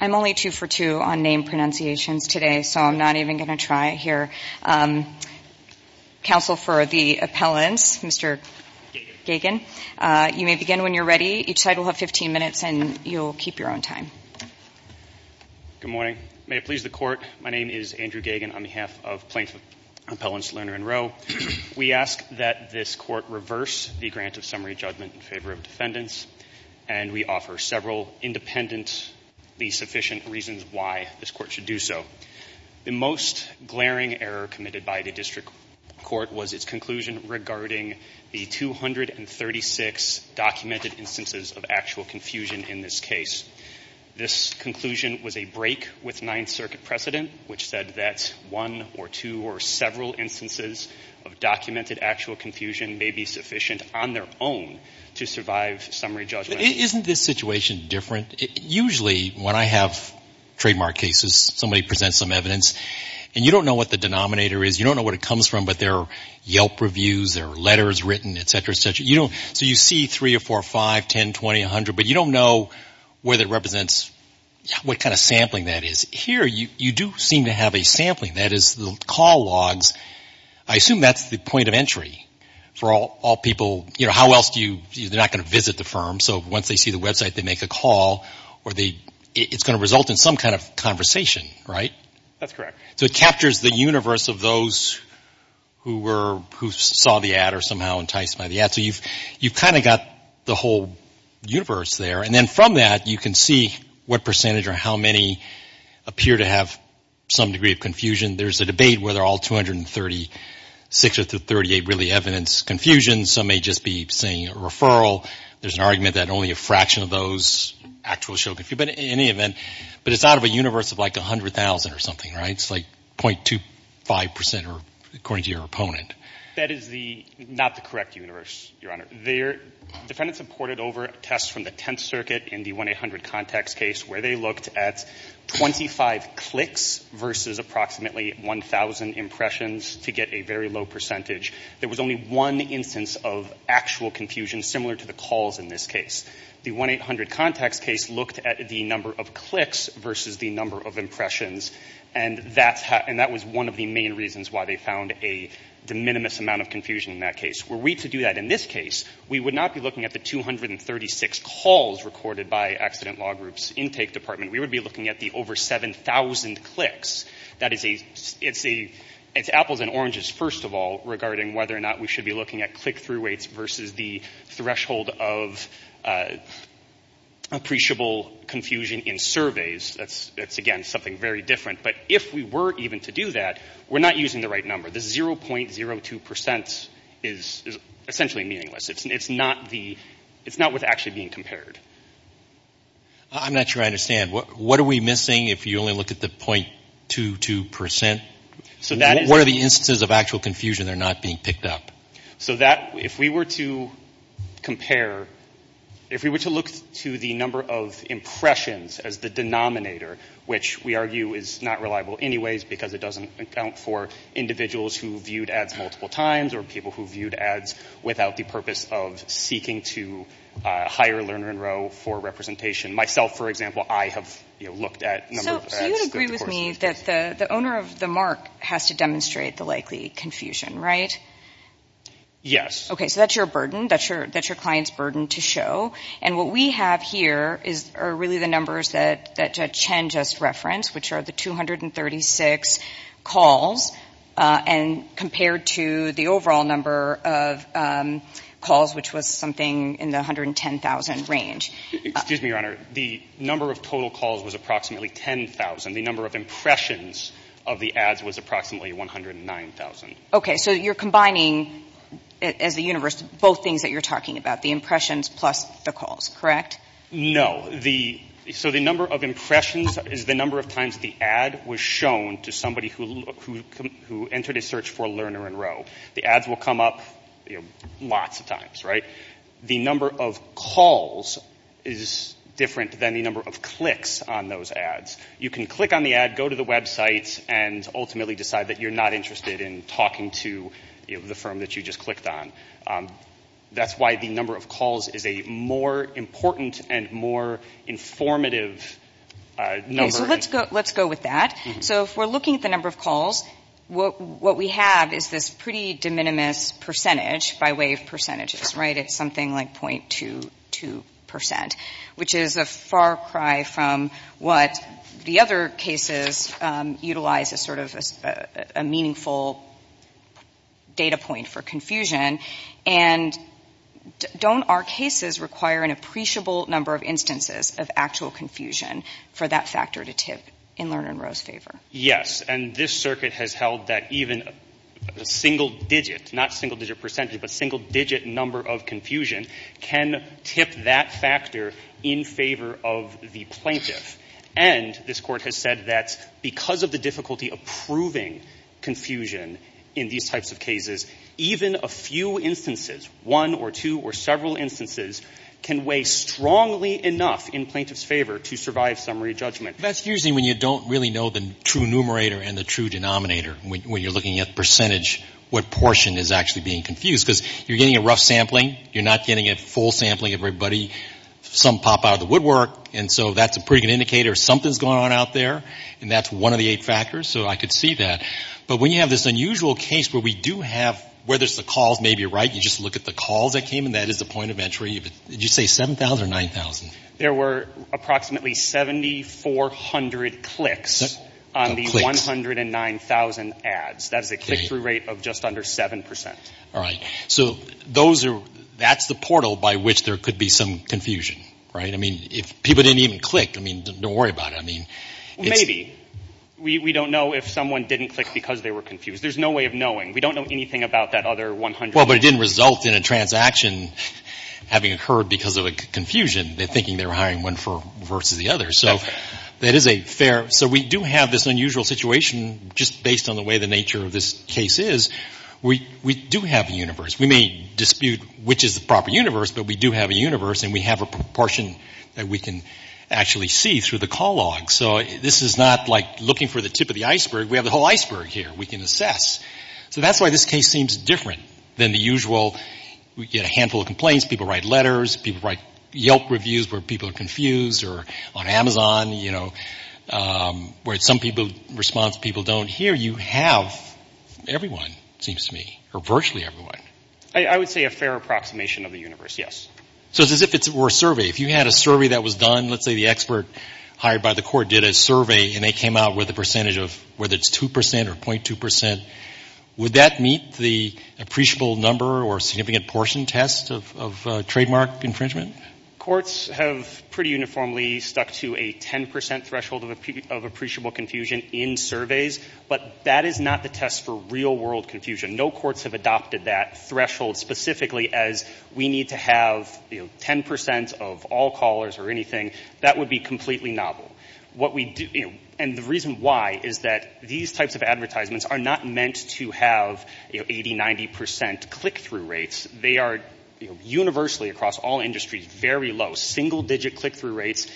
I'm only two for two on name pronunciations today, so I'm not even going to try here. Counsel for the appellants, Mr. Gagin, you may begin when you're ready. Each side will have 15 minutes, and you'll keep your own time. Good morning. May it please the Court, my name is Andrew Gagin on behalf of plaintiff appellants Lerner & Rowe. We ask that this Court reverse the grant of summary judgment in favor of defendants, and we offer several independently sufficient reasons why this Court should do so. The most glaring error committed by the district court was its conclusion regarding the 236 documented instances of actual confusion in this case. This conclusion was a break with Ninth Circuit precedent, which said that one or two or several instances of documented actual confusion may be sufficient on their own to survive summary judgment. Isn't this situation different? Usually when I have trademark cases, somebody presents some evidence, and you don't know what the denominator is, you don't know what it comes from, but there are Yelp reviews, there are letters written, et cetera, et cetera. So you see three or four, five, 10, 20, 100, but you don't know what kind of sampling that is. Here you do seem to have a sampling, that is the call logs. I assume that's the point of entry for all people. You know, how else do you, they're not going to visit the firm, so once they see the website, they make a call, or it's going to result in some kind of conversation, right? That's correct. So it captures the universe of those who saw the ad or somehow enticed by the ad. So you've kind of got the whole universe there. And then from that, you can see what percentage or how many appear to have some degree of confusion. There's a debate whether all 236 or 238 really evidence confusion. Some may just be saying a referral. There's an argument that only a fraction of those actually show confusion. But in any event, but it's out of a universe of like 100,000 or something, right? It's like 0.25% or according to your opponent. That is not the correct universe, Your Honor. Defendants have ported over tests from the Tenth Circuit in the 1-800 Contacts case where they looked at 25 clicks versus approximately 1,000 impressions to get a very low percentage. There was only one instance of actual confusion similar to the calls in this case. The 1-800 Contacts case looked at the number of clicks versus the number of impressions. And that was one of the main reasons why they found a de minimis amount of confusion in that case. Were we to do that in this case, we would not be looking at the 236 calls recorded by Accident Law Group's Intake Department. We would be looking at the over 7,000 clicks. It's apples and oranges, first of all, regarding whether or not we should be looking at click-through rates versus the threshold of appreciable confusion in surveys. That's, again, something very different. But if we were even to do that, we're not using the right number. The 0.02% is essentially meaningless. It's not what's actually being compared. I'm not sure I understand. What are we missing if you only look at the 0.22%? What are the instances of actual confusion that are not being picked up? If we were to compare, if we were to look to the number of impressions as the denominator, which we argue is not reliable anyways because it doesn't account for individuals who viewed ads multiple times or people who viewed ads without the purpose of seeking to hire Lerner and Rowe for representation. Myself, for example, I have looked at a number of ads. So you would agree with me that the owner of the mark has to demonstrate the likely confusion, right? Yes. Okay, so that's your burden. That's your client's burden to show. And what we have here are really the numbers that Judge Chen just referenced, which are the 236 calls compared to the overall number of calls, which was something in the 110,000 range. Excuse me, Your Honor. The number of total calls was approximately 10,000. The number of impressions of the ads was approximately 109,000. Okay. So you're combining as a universe both things that you're talking about, the impressions plus the calls, correct? No. So the number of impressions is the number of times the ad was shown to somebody who entered a search for Lerner and Rowe. The ads will come up lots of times, right? The number of calls is different than the number of clicks on those ads. You can click on the ad, go to the website, and ultimately decide that you're not interested in talking to the firm that you just clicked on. That's why the number of calls is a more important and more informative number. Okay, so let's go with that. So if we're looking at the number of calls, what we have is this pretty de minimis percentage by way of percentages, right? It's something like 0.22 percent, which is a far cry from what the other cases utilize as sort of a meaningful data point for confusion. And don't our cases require an appreciable number of instances of actual confusion for that factor to tip in Lerner and Rowe's favor? Yes, and this circuit has held that even a single digit, not single digit percentage, but single digit number of confusion can tip that factor in favor of the plaintiff. And this Court has said that because of the difficulty of proving confusion in these types of cases, even a few instances, one or two or several instances, can weigh strongly enough in plaintiff's favor to survive summary judgment. That's usually when you don't really know the true numerator and the true denominator when you're looking at percentage, what portion is actually being confused. Because you're getting a rough sampling. You're not getting a full sampling of everybody. Some pop out of the woodwork. And so that's a pretty good indicator something's going on out there. And that's one of the eight factors. So I could see that. But when you have this unusual case where we do have, where there's the calls maybe right, you just look at the calls that came in, that is the point of entry. Did you say 7,000 or 9,000? There were approximately 7,400 clicks on the 109,000 ads. That is a click-through rate of just under 7%. All right. So those are, that's the portal by which there could be some confusion, right? I mean, if people didn't even click, I mean, don't worry about it. I mean, it's... Maybe. We don't know if someone didn't click because they were confused. We don't know anything about that other 100,000. Well, but it didn't result in a transaction having occurred because of a confusion. They're thinking they're hiring one versus the other. So that is a fair... So we do have this unusual situation just based on the way the nature of this case is. We do have a universe. We may dispute which is the proper universe, but we do have a universe. And we have a proportion that we can actually see through the call log. So this is not like looking for the tip of the iceberg. We have the whole iceberg here we can assess. So that's why this case seems different than the usual. We get a handful of complaints. People write letters. People write Yelp reviews where people are confused or on Amazon, you know, where some response people don't hear. You have everyone, it seems to me, or virtually everyone. I would say a fair approximation of the universe, yes. So it's as if it were a survey. If you had a survey that was done, let's say the expert hired by the court did a survey, and they came out with a percentage of whether it's 2% or 0.2%, would that meet the appreciable number or significant portion test of trademark infringement? Courts have pretty uniformly stuck to a 10% threshold of appreciable confusion in surveys, but that is not the test for real-world confusion. No courts have adopted that threshold specifically as we need to have 10% of all callers or anything. That would be completely novel. And the reason why is that these types of advertisements are not meant to have 80%, 90% click-through rates. They are universally across all industries very low, single-digit click-through rates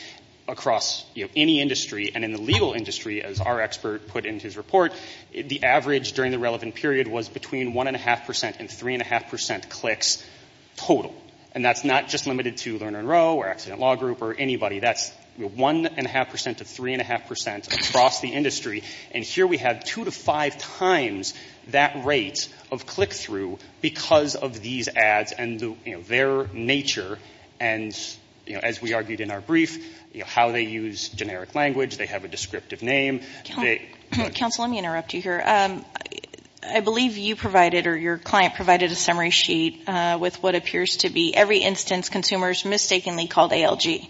across any industry. And in the legal industry, as our expert put in his report, the average during the relevant period was between 1.5% and 3.5% clicks total. And that's not just limited to Lerner and Rowe or Accident Law Group or anybody. That's 1.5% to 3.5% across the industry. And here we have two to five times that rate of click-through because of these ads and their nature and, as we argued in our brief, how they use generic language. They have a descriptive name. Counsel, let me interrupt you here. I believe you provided or your client provided a summary sheet with what appears to be every instance consumers mistakenly called ALG.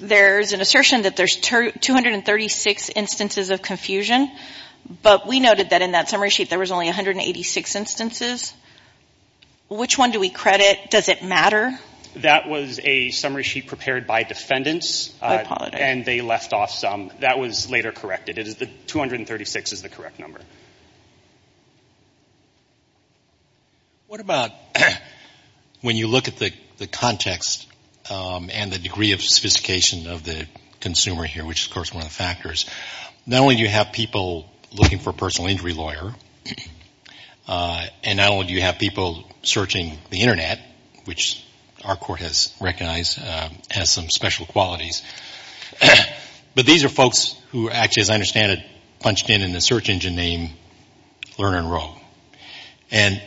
There's an assertion that there's 236 instances of confusion, but we noted that in that summary sheet there was only 186 instances. Which one do we credit? Does it matter? That was a summary sheet prepared by defendants. I apologize. And they left off some. That was later corrected. 236 is the correct number. What about when you look at the context and the degree of sophistication of the consumer here, which is, of course, one of the factors, not only do you have people looking for a personal injury lawyer and not only do you have people searching the Internet, which our court has recognized has some special qualities, but these are folks who actually, as I understand it, have a search engine named Lerner and Rowe. And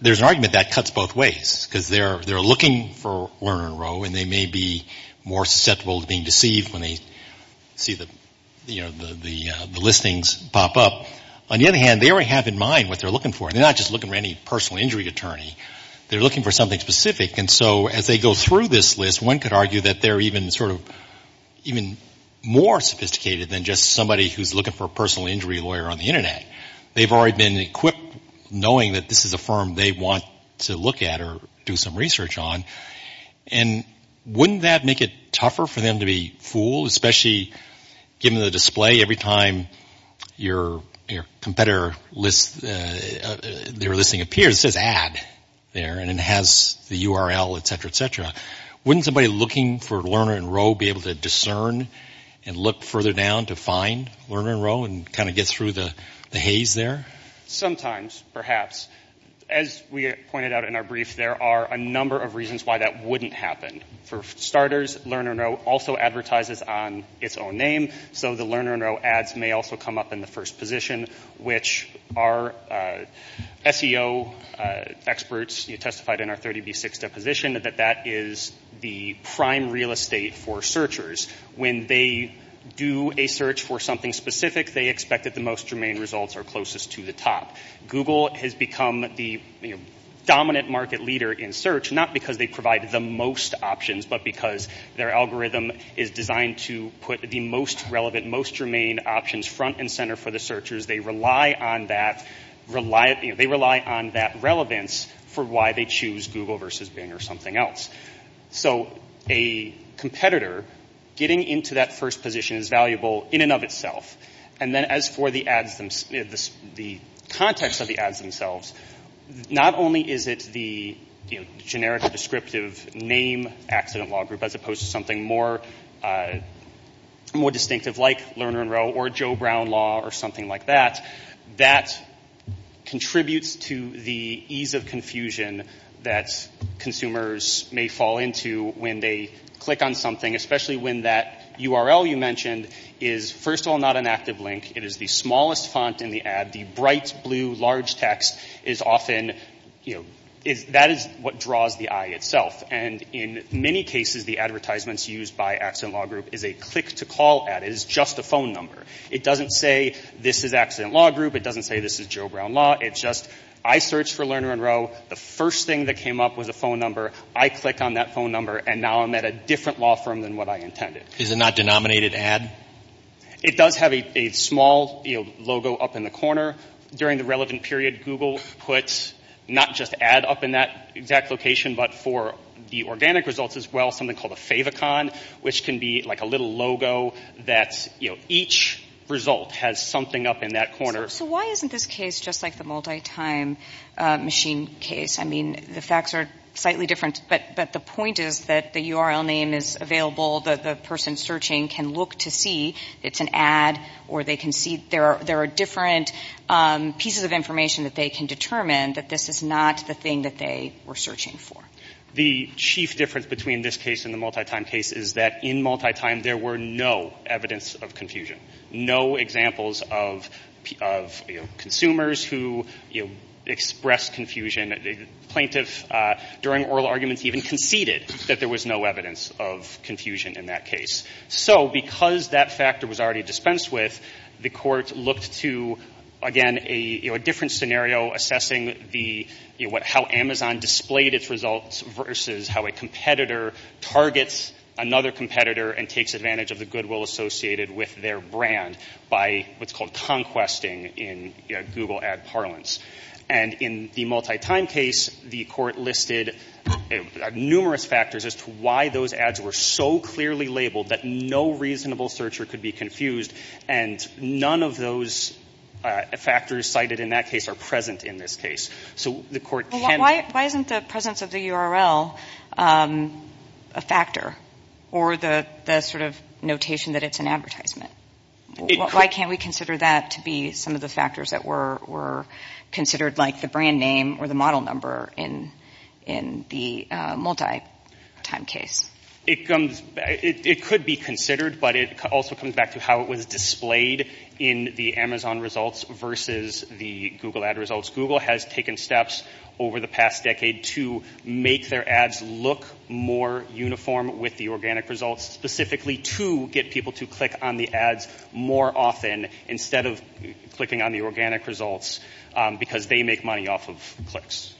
there's an argument that cuts both ways, because they're looking for Lerner and Rowe and they may be more susceptible to being deceived when they see the listings pop up. On the other hand, they already have in mind what they're looking for. They're not just looking for any personal injury attorney. They're looking for something specific. And so as they go through this list, one could argue that they're even sort of even more sophisticated than just somebody who's looking for a personal injury lawyer on the Internet. They've already been equipped knowing that this is a firm they want to look at or do some research on. And wouldn't that make it tougher for them to be fooled, especially given the display every time your competitor list, their listing appears, it says ad there and it has the URL, et cetera, et cetera. Wouldn't somebody looking for Lerner and Rowe be able to discern and look further down to find Lerner and Rowe and kind of get through the haze there? Sometimes, perhaps. As we pointed out in our brief, there are a number of reasons why that wouldn't happen. For starters, Lerner and Rowe also advertises on its own name, so the Lerner and Rowe ads may also come up in the first position, which our SEO experts testified in our 30B6 deposition that that is the prime real estate for searchers. When they do a search for something specific, they expect that the most germane results are closest to the top. Google has become the dominant market leader in search, not because they provide the most options, but because their algorithm is designed to put the most relevant, most germane options front and center for the searchers. They rely on that relevance for why they choose Google versus Bing or something else. So a competitor getting into that first position is valuable in and of itself. And then as for the ads themselves, the context of the ads themselves, not only is it the generic or descriptive name accident law group as opposed to something more distinctive like Lerner and Rowe or Joe Brown law or something like that, that contributes to the ease of confusion that consumers may fall into when they click on something, especially when that URL you mentioned is first of all not an active link. It is the smallest font in the ad. The bright blue large text is often, you know, that is what draws the eye itself. And in many cases, the advertisements used by accident law group is a click-to-call ad. It is just a phone number. It doesn't say this is accident law group. It doesn't say this is Joe Brown law. It's just I searched for Lerner and Rowe. The first thing that came up was a phone number. I click on that phone number, and now I'm at a different law firm than what I intended. Is it not denominated ad? It does have a small logo up in the corner. During the relevant period, Google puts not just ad up in that exact location, but for the organic results as well, something called a favicon, which can be like a little logo that, you know, each result has something up in that corner. So why isn't this case just like the multi-time machine case? I mean, the facts are slightly different, but the point is that the URL name is available. The person searching can look to see it's an ad, or they can see there are different pieces of information that they can determine that this is not the thing that they were searching for. The chief difference between this case and the multi-time case is that in multi-time, there were no evidence of confusion, no examples of consumers who expressed confusion. The plaintiff during oral arguments even conceded that there was no evidence of confusion in that case. So because that factor was already dispensed with, the court looked to, again, a different scenario, assessing how Amazon displayed its results versus how a competitor targets another competitor and takes advantage of the goodwill associated with their brand by what's called conquesting in Google ad parlance. And in the multi-time case, the court listed numerous factors as to why those ads were so clearly labeled that no reasonable searcher could be confused, and none of those factors cited in that case are present in this case. So the court can... Why isn't the presence of the URL a factor or the sort of notation that it's an advertisement? Why can't we consider that to be some of the factors that were considered, like the brand name or the model number in the multi-time case? It could be considered, but it also comes back to how it was displayed in the Amazon results versus the Google ad results. Google has taken steps over the past decade to make their ads look more uniform with the organic results, specifically to get people to click on the ads more often instead of clicking on the organic results, because they make money off of clicks.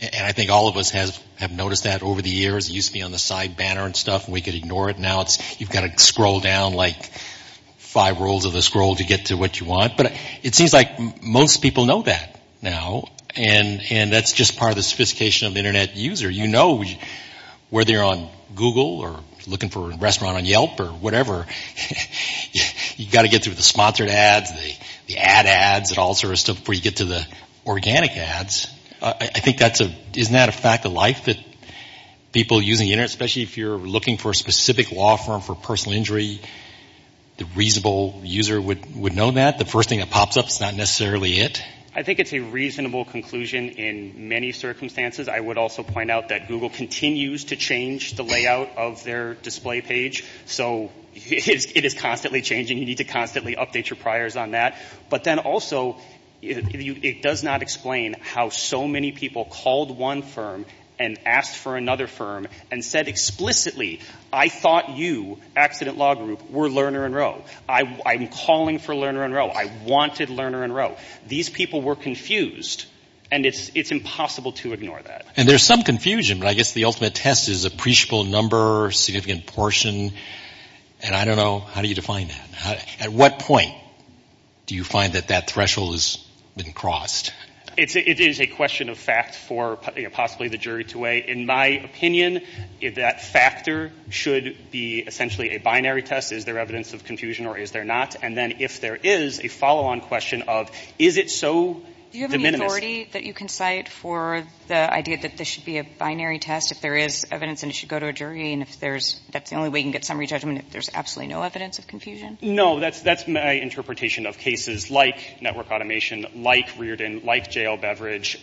And I think all of us have noticed that over the years. It used to be on the side banner and stuff, and we could ignore it. Now you've got to scroll down like five rolls of the scroll to get to what you want. But it seems like most people know that now, and that's just part of the sophistication of the Internet user. You know whether you're on Google or looking for a restaurant on Yelp or whatever, you've got to get through the sponsored ads, the ad ads, and all sorts of stuff before you get to the organic ads. I think that's a – isn't that a fact of life that people using the Internet, especially if you're looking for a specific law firm for personal injury, the reasonable user would know that. The first thing that pops up is not necessarily it. I think it's a reasonable conclusion in many circumstances. I would also point out that Google continues to change the layout of their display page. So it is constantly changing. You need to constantly update your priors on that. But then also it does not explain how so many people called one firm and asked for another firm and said explicitly, I thought you, Accident Law Group, were Lerner and Rowe. I'm calling for Lerner and Rowe. I wanted Lerner and Rowe. These people were confused, and it's impossible to ignore that. And there's some confusion, but I guess the ultimate test is appreciable number, significant portion. And I don't know, how do you define that? At what point do you find that that threshold has been crossed? It is a question of fact for possibly the jury to weigh. In my opinion, that factor should be essentially a binary test. Is there evidence of confusion or is there not? And then if there is, a follow-on question of is it so de minimis? Do you have any authority that you can cite for the idea that this should be a binary test if there is evidence and it should go to a jury? And if that's the only way you can get summary judgment if there's absolutely no evidence of confusion? No. That's my interpretation of cases like network automation, like Reardon, like JL Beverage,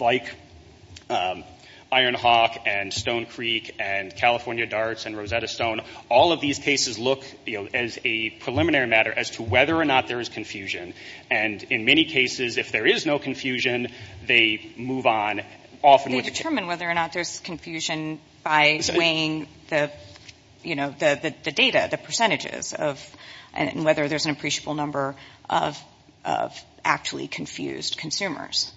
like Ironhawk and Stone Creek and California Darts and Rosetta Stone. All of these cases look as a preliminary matter as to whether or not there is confusion. And in many cases, if there is no confusion, they move on. They determine whether or not there's confusion by weighing the data, the percentages of whether there's an appreciable number of actually confused consumers.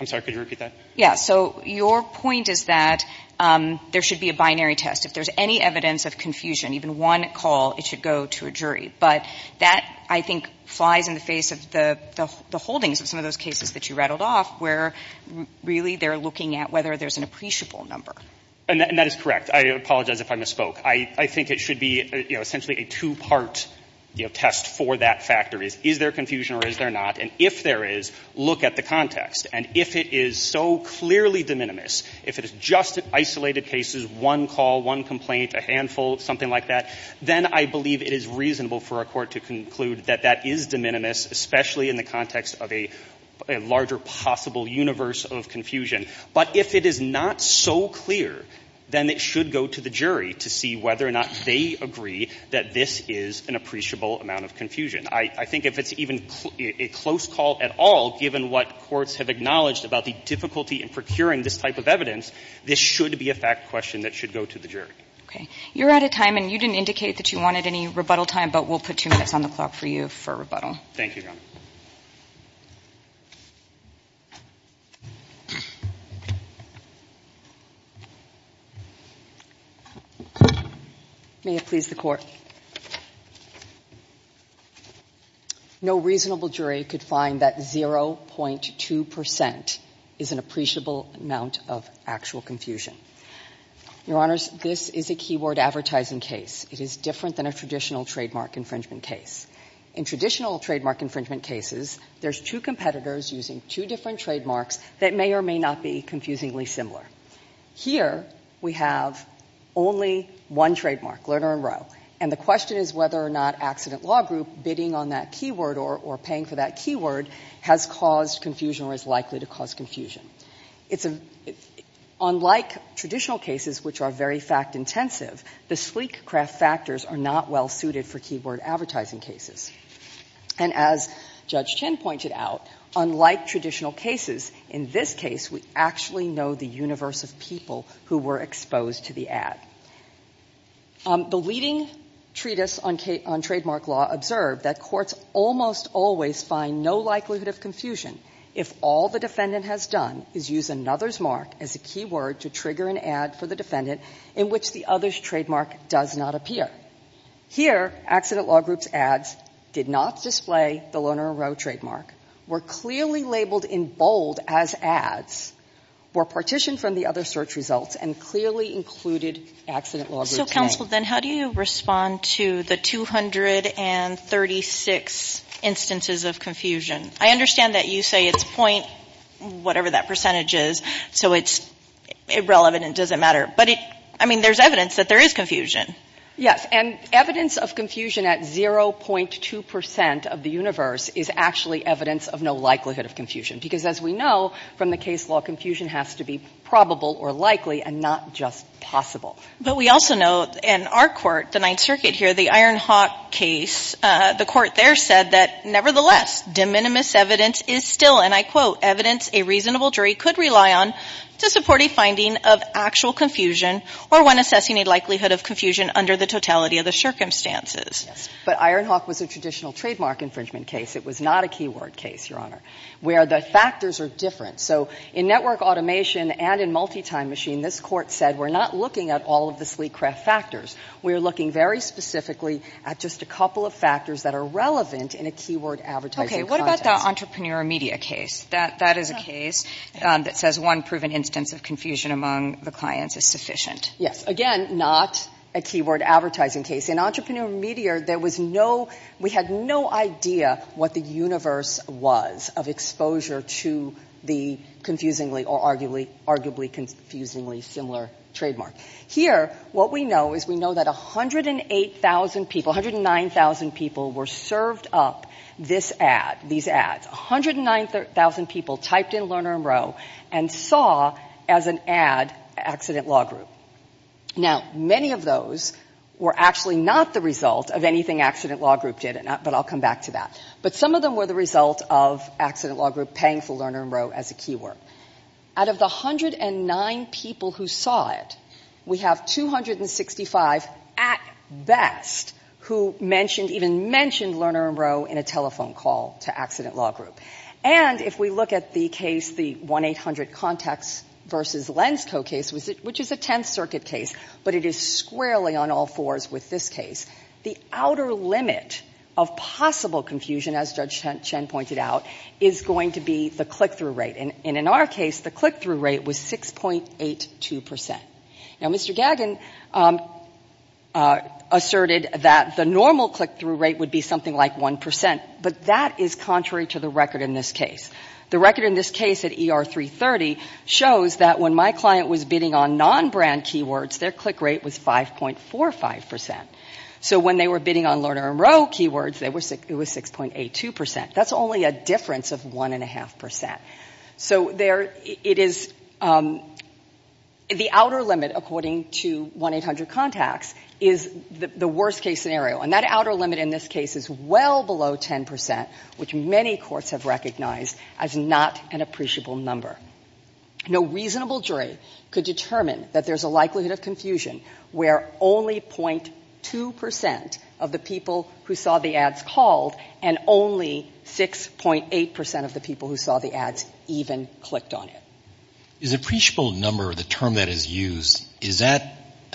I'm sorry, could you repeat that? Yeah. So your point is that there should be a binary test. If there's any evidence of confusion, even one call, it should go to a jury. But that, I think, flies in the face of the holdings of some of those cases that you rattled off where really they're looking at whether there's an appreciable number. And that is correct. I apologize if I misspoke. I think it should be essentially a two-part test for that factor is, is there confusion or is there not? And if there is, look at the context. And if it is so clearly de minimis, if it is just isolated cases, one call, one complaint, a handful, something like that, then I believe it is reasonable for a court to conclude that that is de minimis, especially in the context of a larger possible universe of confusion. But if it is not so clear, then it should go to the jury to see whether or not they agree that this is an appreciable amount of confusion. I think if it's even a close call at all, given what courts have acknowledged about the difficulty in procuring this type of evidence, this should be a fact question that should go to the jury. Okay. You're out of time, and you didn't indicate that you wanted any rebuttal time, but we'll put two minutes on the clock for you for rebuttal. Thank you, Your Honor. May it please the Court. No reasonable jury could find that 0.2% is an appreciable amount of actual confusion. Your Honors, this is a keyword advertising case. It is different than a traditional trademark infringement case. In traditional trademark infringement cases, there's two competitors using two different trademarks that may or may not be confusingly similar. Here, we have only one trademark, Lerner and Rowe, and the question is whether or not accident law group bidding on that keyword or paying for that keyword has caused confusion or is likely to cause confusion. It's a — unlike traditional cases, which are very fact-intensive, the sleek craft factors are not well suited for keyword advertising cases. And as Judge Chin pointed out, unlike traditional cases, in this case, we actually know the universe of people who were exposed to the ad. The leading treatise on trademark law observed that courts almost always find no likelihood of confusion if all the defendant has done is use another's mark as a keyword to trigger an ad for the defendant in which the other's trademark does not appear. Here, accident law group's ads did not display the Lerner and Rowe trademark, were clearly labeled in bold as ads, were partitioned from the other search results, and clearly included accident law group's name. So, counsel, then how do you respond to the 236 instances of confusion? I understand that you say it's point whatever that percentage is, so it's irrelevant and doesn't matter. But, I mean, there's evidence that there is confusion. Yes. And evidence of confusion at 0.2 percent of the universe is actually evidence of no likelihood of confusion. Because, as we know, from the case law, confusion has to be probable or likely and not just possible. But we also know in our court, the Ninth Circuit here, the Ironhawk case, the court there said that, nevertheless, de minimis evidence is still, and I quote, evidence a reasonable jury could rely on to support a finding of actual confusion or when assessing a likelihood of confusion under the totality of the circumstances. Yes. But Ironhawk was a traditional trademark infringement case. It was not a keyword case, Your Honor, where the factors are different. So in network automation and in multi-time machine, this court said we're not looking at all of the sleek craft factors. We're looking very specifically at just a couple of factors that are relevant in a keyword advertising context. Okay. What about the entrepreneur media case? That is a case that says one proven instance of confusion among the clients is sufficient. Yes. Again, not a keyword advertising case. In entrepreneur media, there was no, we had no idea what the universe was of exposure to the confusingly or arguably confusingly similar trademark. Here, what we know is we know that 108,000 people, 109,000 people were served up this ad, these ads. 109,000 people typed in Lerner and Rowe and saw as an ad accident law group. Now, many of those were actually not the result of anything accident law group did, but I'll come back to that. But some of them were the result of accident law group paying for Lerner and Rowe as a keyword. Out of the 109 people who saw it, we have 265 at best who mentioned, even mentioned Lerner and Rowe in a telephone call to accident law group. And if we look at the case, the 1-800 contacts versus Lensco case, which is a 10th circuit case, but it is squarely on all fours with this case, the outer limit of possible confusion, as Judge Chen pointed out, is going to be the click-through rate. And in our case, the click-through rate was 6.82 percent. Now, Mr. Gagin asserted that the normal click-through rate would be something like 1 percent, but that is contrary to the record in this case. The record in this case at ER 330 shows that when my client was bidding on non-brand keywords, their click rate was 5.45 percent. So when they were bidding on Lerner and Rowe keywords, it was 6.82 percent. That's only a difference of 1.5 percent. So it is the outer limit, according to 1-800 contacts, is the worst-case scenario. And that outer limit in this case is well below 10 percent, which many courts have recognized as not an appreciable number. No reasonable jury could determine that there's a likelihood of confusion where only .2 percent of the people who saw the ads called and only 6.8 percent of the people who saw the ads even clicked on it. Is appreciable number, the term that is used, is that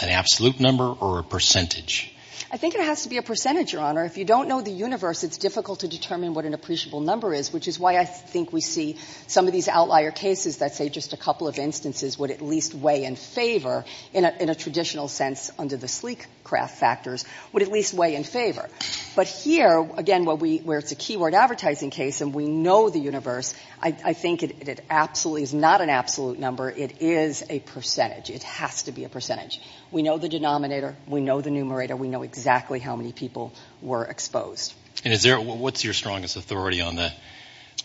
an absolute number or a percentage? I think it has to be a percentage, Your Honor. If you don't know the universe, it's difficult to determine what an appreciable number is, which is why I think we see some of these outlier cases that say just a couple of instances would at least weigh in favor, in a traditional sense under the sleek craft factors, would at least weigh in favor. But here, again, where it's a keyword advertising case and we know the universe, I think it absolutely is not an absolute number. It is a percentage. It has to be a percentage. We know the denominator, we know the numerator, we know exactly how many people were exposed. And what's your strongest authority on the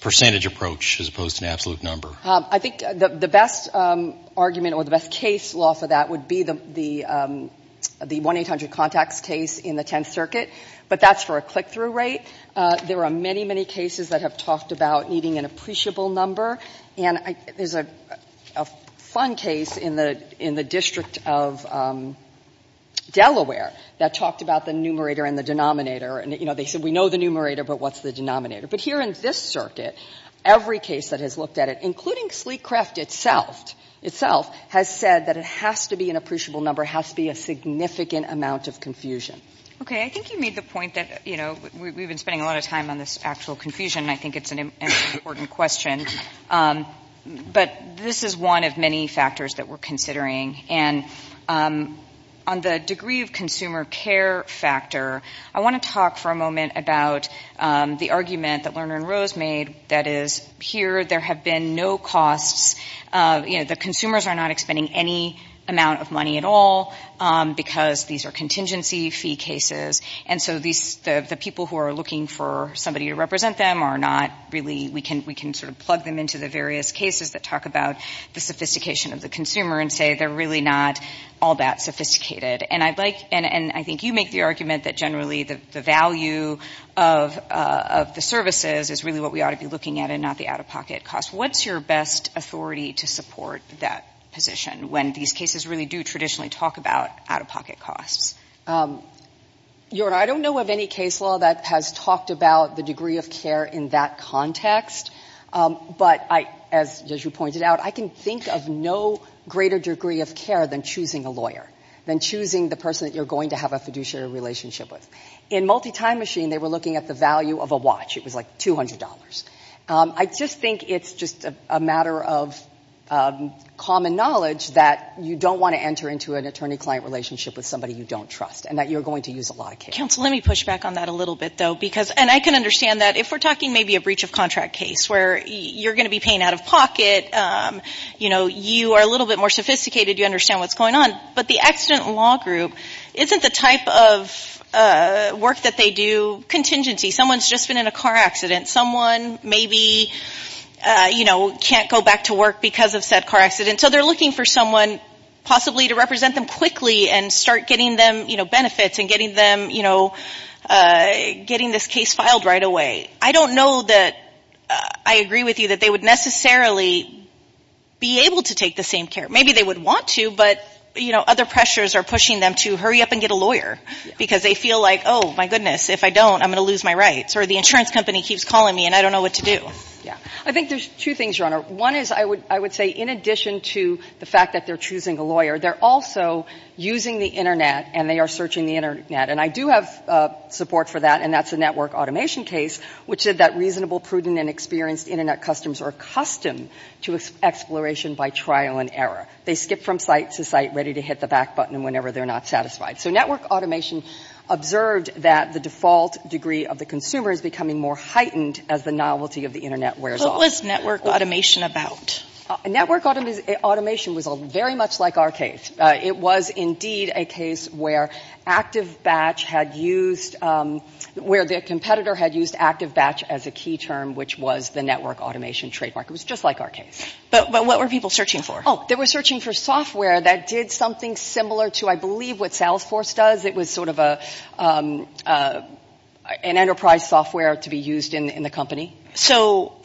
percentage approach as opposed to an absolute number? I think the best argument or the best case law for that would be the 1-800 contacts case in the Tenth Circuit. But that's for a click-through rate. There are many, many cases that have talked about needing an appreciable number. And there's a fun case in the District of Delaware that talked about the numerator and the denominator. And they said, we know the numerator, but what's the denominator? But here in this circuit, every case that has looked at it, including sleek craft itself, has said that it has to be an appreciable number, and that's a point that we've been spending a lot of time on this actual confusion, and I think it's an important question. But this is one of many factors that we're considering. And on the degree of consumer care factor, I want to talk for a moment about the argument that Lerner and Rose made, that is, here there have been no costs. The consumers are not expending any amount of money at all, because these are contingency fee cases, and so the people who are looking for somebody to represent them are not really — we can sort of plug them into the various cases that talk about the sophistication of the consumer and say they're really not all that sophisticated. And I think you make the argument that generally the value of the services is really what we ought to be looking at and not the out-of-pocket costs. What's your best authority to support that position when these cases really do traditionally talk about out-of-pocket costs? Your Honor, I don't know of any case law that has talked about the degree of care in that context, but as you pointed out, I can think of no greater degree of care than choosing a lawyer, than choosing the person that you're going to have a fiduciary relationship with. In multi-time machine, they were looking at the value of a watch. It was like $200. I just think it's just a matter of common knowledge that you don't want to enter into an attorney-client relationship with somebody you don't trust, and that you're going to use a lot of care. Counsel, let me push back on that a little bit, though, because — and I can understand that. Work that they do, contingency. Someone's just been in a car accident. Someone maybe, you know, can't go back to work because of said car accident. So they're looking for someone possibly to represent them quickly and start getting them, you know, benefits and getting them, you know, getting this case filed right away. I don't know that I agree with you that they would necessarily be able to take the same care. Maybe they would want to, but, you know, other pressures are pushing them to hurry up and get a lawyer because they feel like, oh, my goodness, if I don't, I'm going to lose my rights, or the insurance company keeps calling me and I don't know what to do. Yeah. I think there's two things, Your Honor. One is I would say in addition to the fact that they're choosing a lawyer, they're also using the Internet and they are searching the Internet. And I do have support for that, and that's a network automation case, which is that reasonable, prudent and experienced Internet customers are accustomed to exploration by trial and error. They skip from site to site, ready to hit the back button whenever they're not satisfied. So network automation observed that the default degree of the consumer is becoming more heightened as the novelty of the Internet wears off. What was network automation about? Network automation was very much like our case. It was indeed a case where ActiveBatch had used, where the competitor had used ActiveBatch as a key term, which was the network automation trademark. It was just like our case. But what were people searching for? Oh, they were searching for software that did something similar to, I believe, what Salesforce does. It was sort of an enterprise software to be used in the company. So,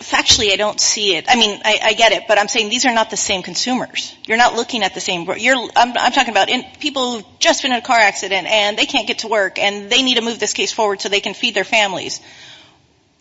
factually, I don't see it. I mean, I get it, but I'm saying these are not the same consumers. You're not looking at the same, I'm talking about people who have just been in a car accident and they can't get to work and they need to move this case forward so they can feed their families.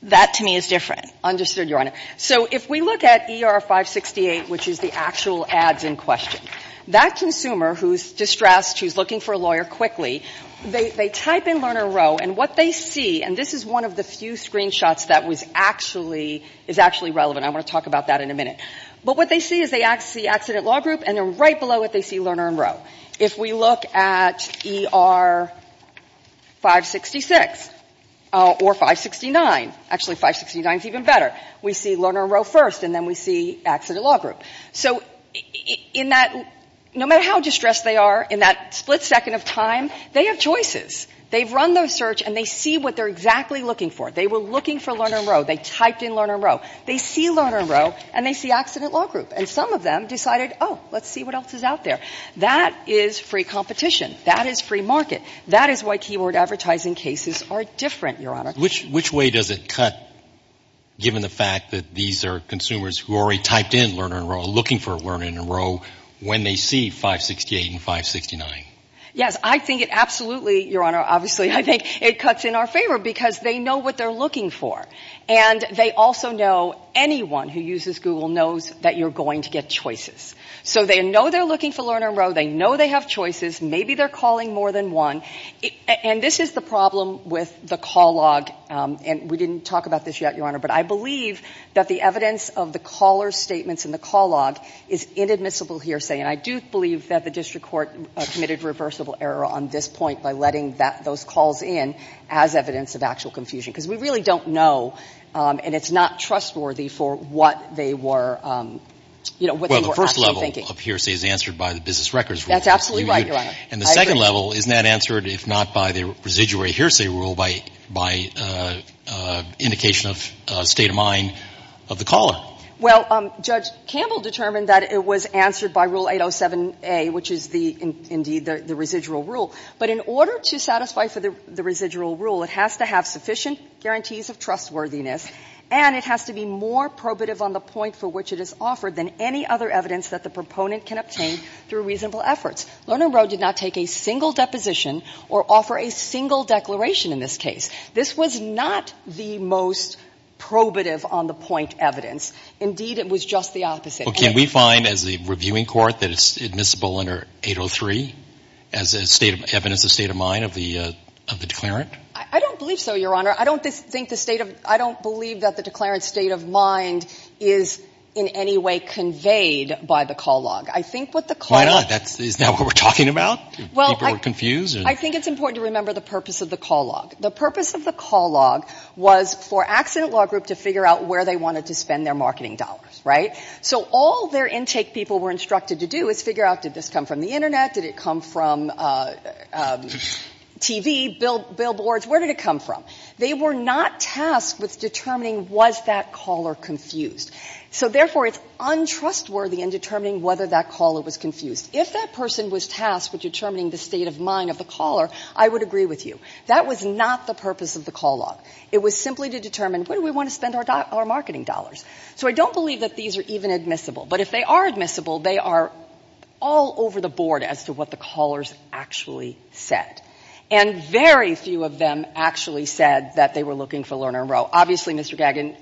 That, to me, is different. Understood, Your Honor. So if we look at ER-568, which is the actual ads in question, that consumer who's distressed, who's looking for a lawyer quickly, they type in Lerner and Rowe, and what they see, and this is one of the few screenshots that was actually, is actually relevant. I want to talk about that in a minute. But what they see is they see accident law group and then right below it they see Lerner and Rowe. If we look at ER-566 or 569, actually 569 is even better, we see Lerner and Rowe first and then we see accident law group. So in that, no matter how distressed they are, in that split second of time, they have choices. They've run their search and they see what they're exactly looking for. They were looking for Lerner and Rowe. They typed in Lerner and Rowe. They see Lerner and Rowe and they see accident law group. And some of them decided, oh, let's see what else is out there. That is free competition. That is free market. That is why keyword advertising cases are different, Your Honor. Which way does it cut given the fact that these are consumers who already typed in Lerner and Rowe, looking for Lerner and Rowe, when they see 568 and 569? Yes, I think it absolutely, Your Honor, obviously I think it cuts in our favor because they know what they're looking for. And they also know anyone who uses Google knows that you're going to get choices. So they know they're looking for Lerner and Rowe. They know they have choices. Maybe they're calling more than one. And this is the problem with the call log. And we didn't talk about this yet, Your Honor. But I believe that the evidence of the caller's statements in the call log is inadmissible hearsay. And I do believe that the district court committed reversible error on this point by letting those calls in as evidence of actual confusion. Because we really don't know, and it's not trustworthy for what they were, you know, what they were actually thinking. Well, the first level of hearsay is answered by the business records rule. That's absolutely right, Your Honor. I agree. The second level, isn't that answered, if not by the residuary hearsay rule, by indication of state of mind of the caller? Well, Judge Campbell determined that it was answered by Rule 807A, which is the indeed the residual rule. But in order to satisfy for the residual rule, it has to have sufficient guarantees of trustworthiness. And it has to be more probative on the point for which it is offered than any other evidence that the proponent can obtain through reasonable efforts. Lerner and Rowe did not take a single deposition or offer a single declaration in this case. This was not the most probative on the point evidence. Indeed, it was just the opposite. Well, can we find as a reviewing court that it's admissible under 803 as evidence of state of mind of the declarant? I don't believe so, Your Honor. I don't believe that the declarant's state of mind is in any way conveyed by the call log. Why not? Is that what we're talking about? People are confused? I think it's important to remember the purpose of the call log. The purpose of the call log was for Accident Law Group to figure out where they wanted to spend their marketing dollars, right? So all their intake people were instructed to do is figure out did this come from the Internet, did it come from TV, billboards? Where did it come from? They were not tasked with determining was that caller confused. So therefore, it's untrustworthy in determining whether that caller was confused. If that person was tasked with determining the state of mind of the caller, I would agree with you. That was not the purpose of the call log. It was simply to determine where do we want to spend our marketing dollars. So I don't believe that these are even admissible. But if they are admissible, they are all over the board as to what the callers actually said. And very few of them actually said that they were looking for Lerner and Rowe. Obviously, Mr. Gagin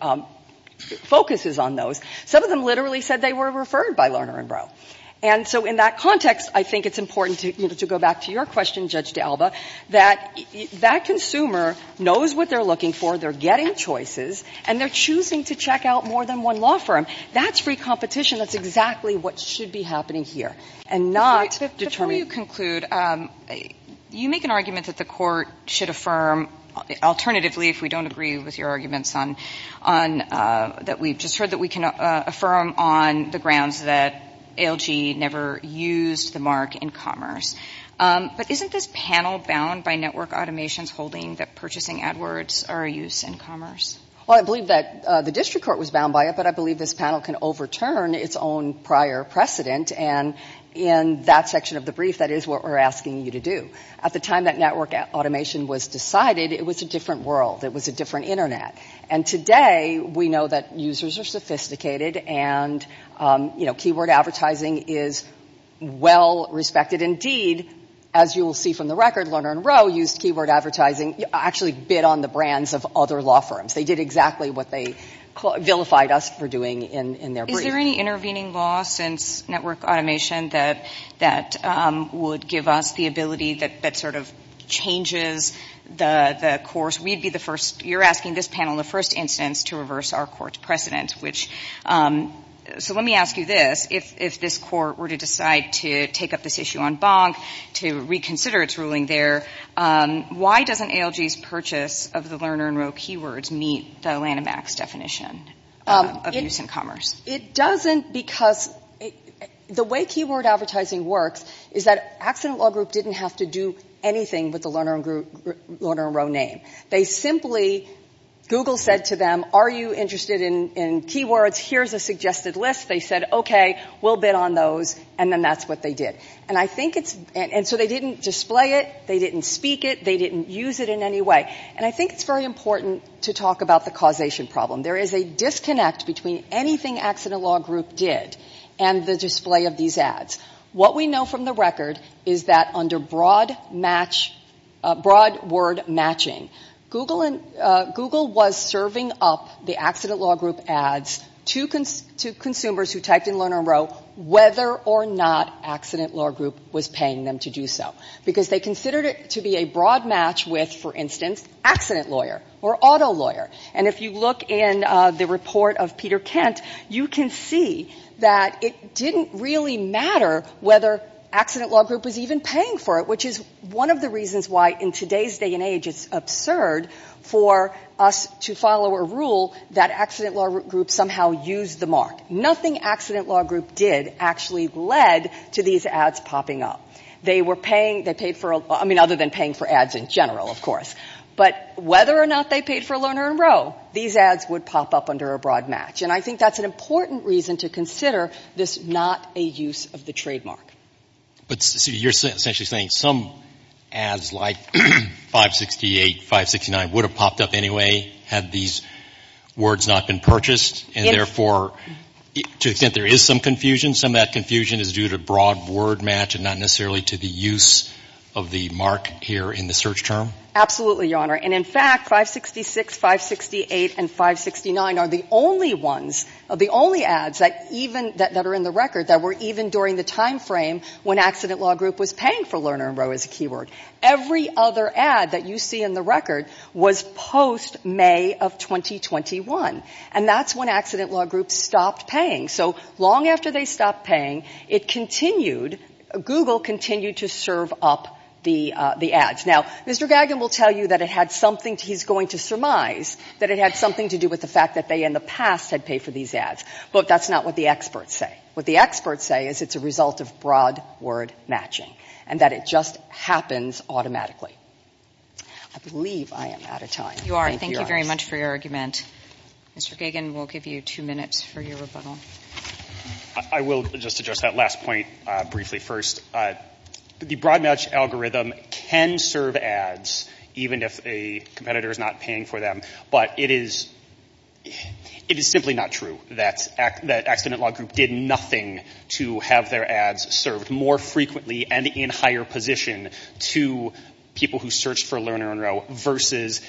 focuses on those. Some of them literally said they were referred by Lerner and Rowe. And so in that context, I think it's important to go back to your question, Judge D'Alba, that that consumer knows what they're looking for, they're getting choices, and they're choosing to check out more than one law firm. That's free competition. That's exactly what should be happening here. And not determining — Alternatively, if we don't agree with your arguments that we've just heard, that we can affirm on the grounds that ALG never used the mark in commerce. But isn't this panel bound by network automations holding that purchasing AdWords are a use in commerce? Well, I believe that the district court was bound by it, but I believe this panel can overturn its own prior precedent. And in that section of the brief, that is what we're asking you to do. At the time that network automation was decided, it was a different world. It was a different Internet. And today, we know that users are sophisticated and, you know, keyword advertising is well-respected. Indeed, as you will see from the record, Lerner and Rowe used keyword advertising — actually bid on the brands of other law firms. They did exactly what they vilified us for doing in their brief. Is there any intervening law since network automation that would give us the ability that sort of changes the course? We'd be the first — you're asking this panel the first instance to reverse our court's precedent, which — so let me ask you this. If this court were to decide to take up this issue on Bonk, to reconsider its ruling there, why doesn't ALG's purchase of the Lerner and Rowe keywords meet the Lanham Act's definition of use in commerce? It doesn't because the way keyword advertising works is that Accident Law Group didn't have to do anything with the Lerner and Rowe name. They simply — Google said to them, are you interested in keywords? Here's a suggested list. They said, okay, we'll bid on those, and then that's what they did. And I think it's — and so they didn't display it, they didn't speak it, they didn't use it in any way. And I think it's very important to talk about the causation problem. There is a disconnect between anything Accident Law Group did and the display of these ads. What we know from the record is that under broad match — broad word matching, Google was serving up the Accident Law Group ads to consumers who typed in Lerner and Rowe, whether or not Accident Law Group was paying them to do so, because they considered it to be a broad match with, for instance, accident lawyer or auto lawyer. And if you look in the report of Peter Kent, you can see that it didn't really matter whether Accident Law Group was even paying for it, which is one of the reasons why in today's day and age it's absurd for us to follow a rule that Accident Law Group somehow used the mark. Nothing Accident Law Group did actually led to these ads popping up. They were paying — they paid for — I mean, other than paying for ads in general, of course. But whether or not they paid for Lerner and Rowe, these ads would pop up under a broad match. And I think that's an important reason to consider this not a use of the trademark. But you're essentially saying some ads like 568, 569 would have popped up anyway had these words not been purchased, and therefore to the extent there is some confusion, some of that confusion is due to broad word match and not necessarily to the use of the mark here in the search term? Absolutely, Your Honor. And in fact, 566, 568 and 569 are the only ones — the only ads that even — that are in the record that were even during the timeframe when Accident Law Group was paying for Lerner and Rowe as a keyword. Every other ad that you see in the record was post-May of 2021. And that's when Accident Law Group stopped paying. So long after they stopped paying, it continued — Google continued to serve up the ads. Now, Mr. Gagin will tell you that it had something he's going to surmise, that it had something to do with the fact that they in the past had paid for these ads. But that's not what the experts say. What the experts say is it's a result of broad word matching and that it just happens automatically. I believe I am out of time. You are. Thank you very much for your argument. Mr. Gagin, we'll give you two minutes for your rebuttal. I will just address that last point briefly first. The broad match algorithm can serve ads even if a competitor is not paying for them. But it is simply not true that Accident Law Group did nothing to have their ads served more frequently and in higher position to people who searched for Lerner and Rowe versus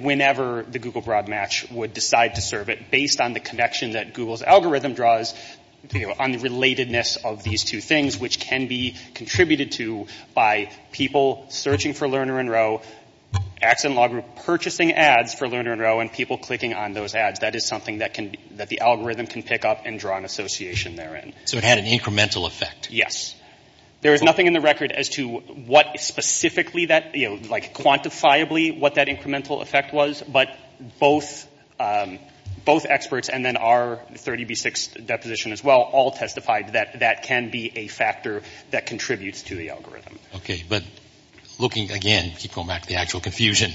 whenever the Google broad match would decide to serve it based on the connection that Google's algorithm draws on the relatedness of these two things, which can be contributed to by people searching for Lerner and Rowe, Accident Law Group purchasing ads for Lerner and Rowe, and people clicking on those ads. That is something that the algorithm can pick up and draw an association therein. So it had an incremental effect. Yes. There is nothing in the record as to what specifically that, like quantifiably what that incremental effect was. But both experts and then our 30B6 deposition as well all testified that that can be a factor that contributes to the algorithm. Okay. But looking again, keep going back to the actual confusion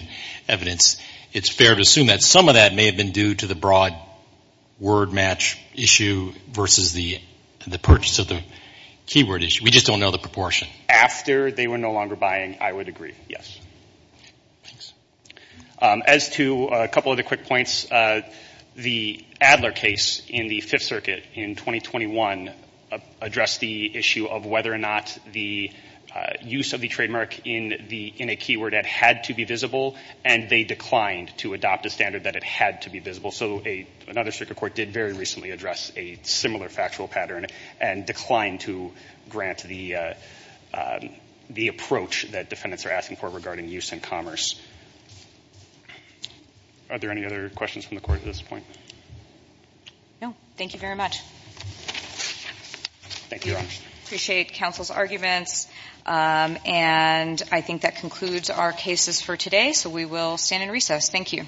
evidence, it's fair to assume that some of that may have been due to the broad word match issue versus the purchase of the keyword issue. We just don't know the proportion. After they were no longer buying, I would agree, yes. Thanks. As to a couple of the quick points, the Adler case in the Fifth Circuit in 2021 addressed the issue of whether or not the use of the trademark in a keyword ad had to be visible, and they declined to adopt a standard that it had to be visible. So another circuit court did very recently address a similar factual pattern and declined to grant the approach that defendants are asking for regarding use and commerce. Are there any other questions from the court at this point? No. Thank you very much. Thank you, Your Honor. Appreciate counsel's arguments. And I think that concludes our cases for today, so we will stand in recess. Thank you.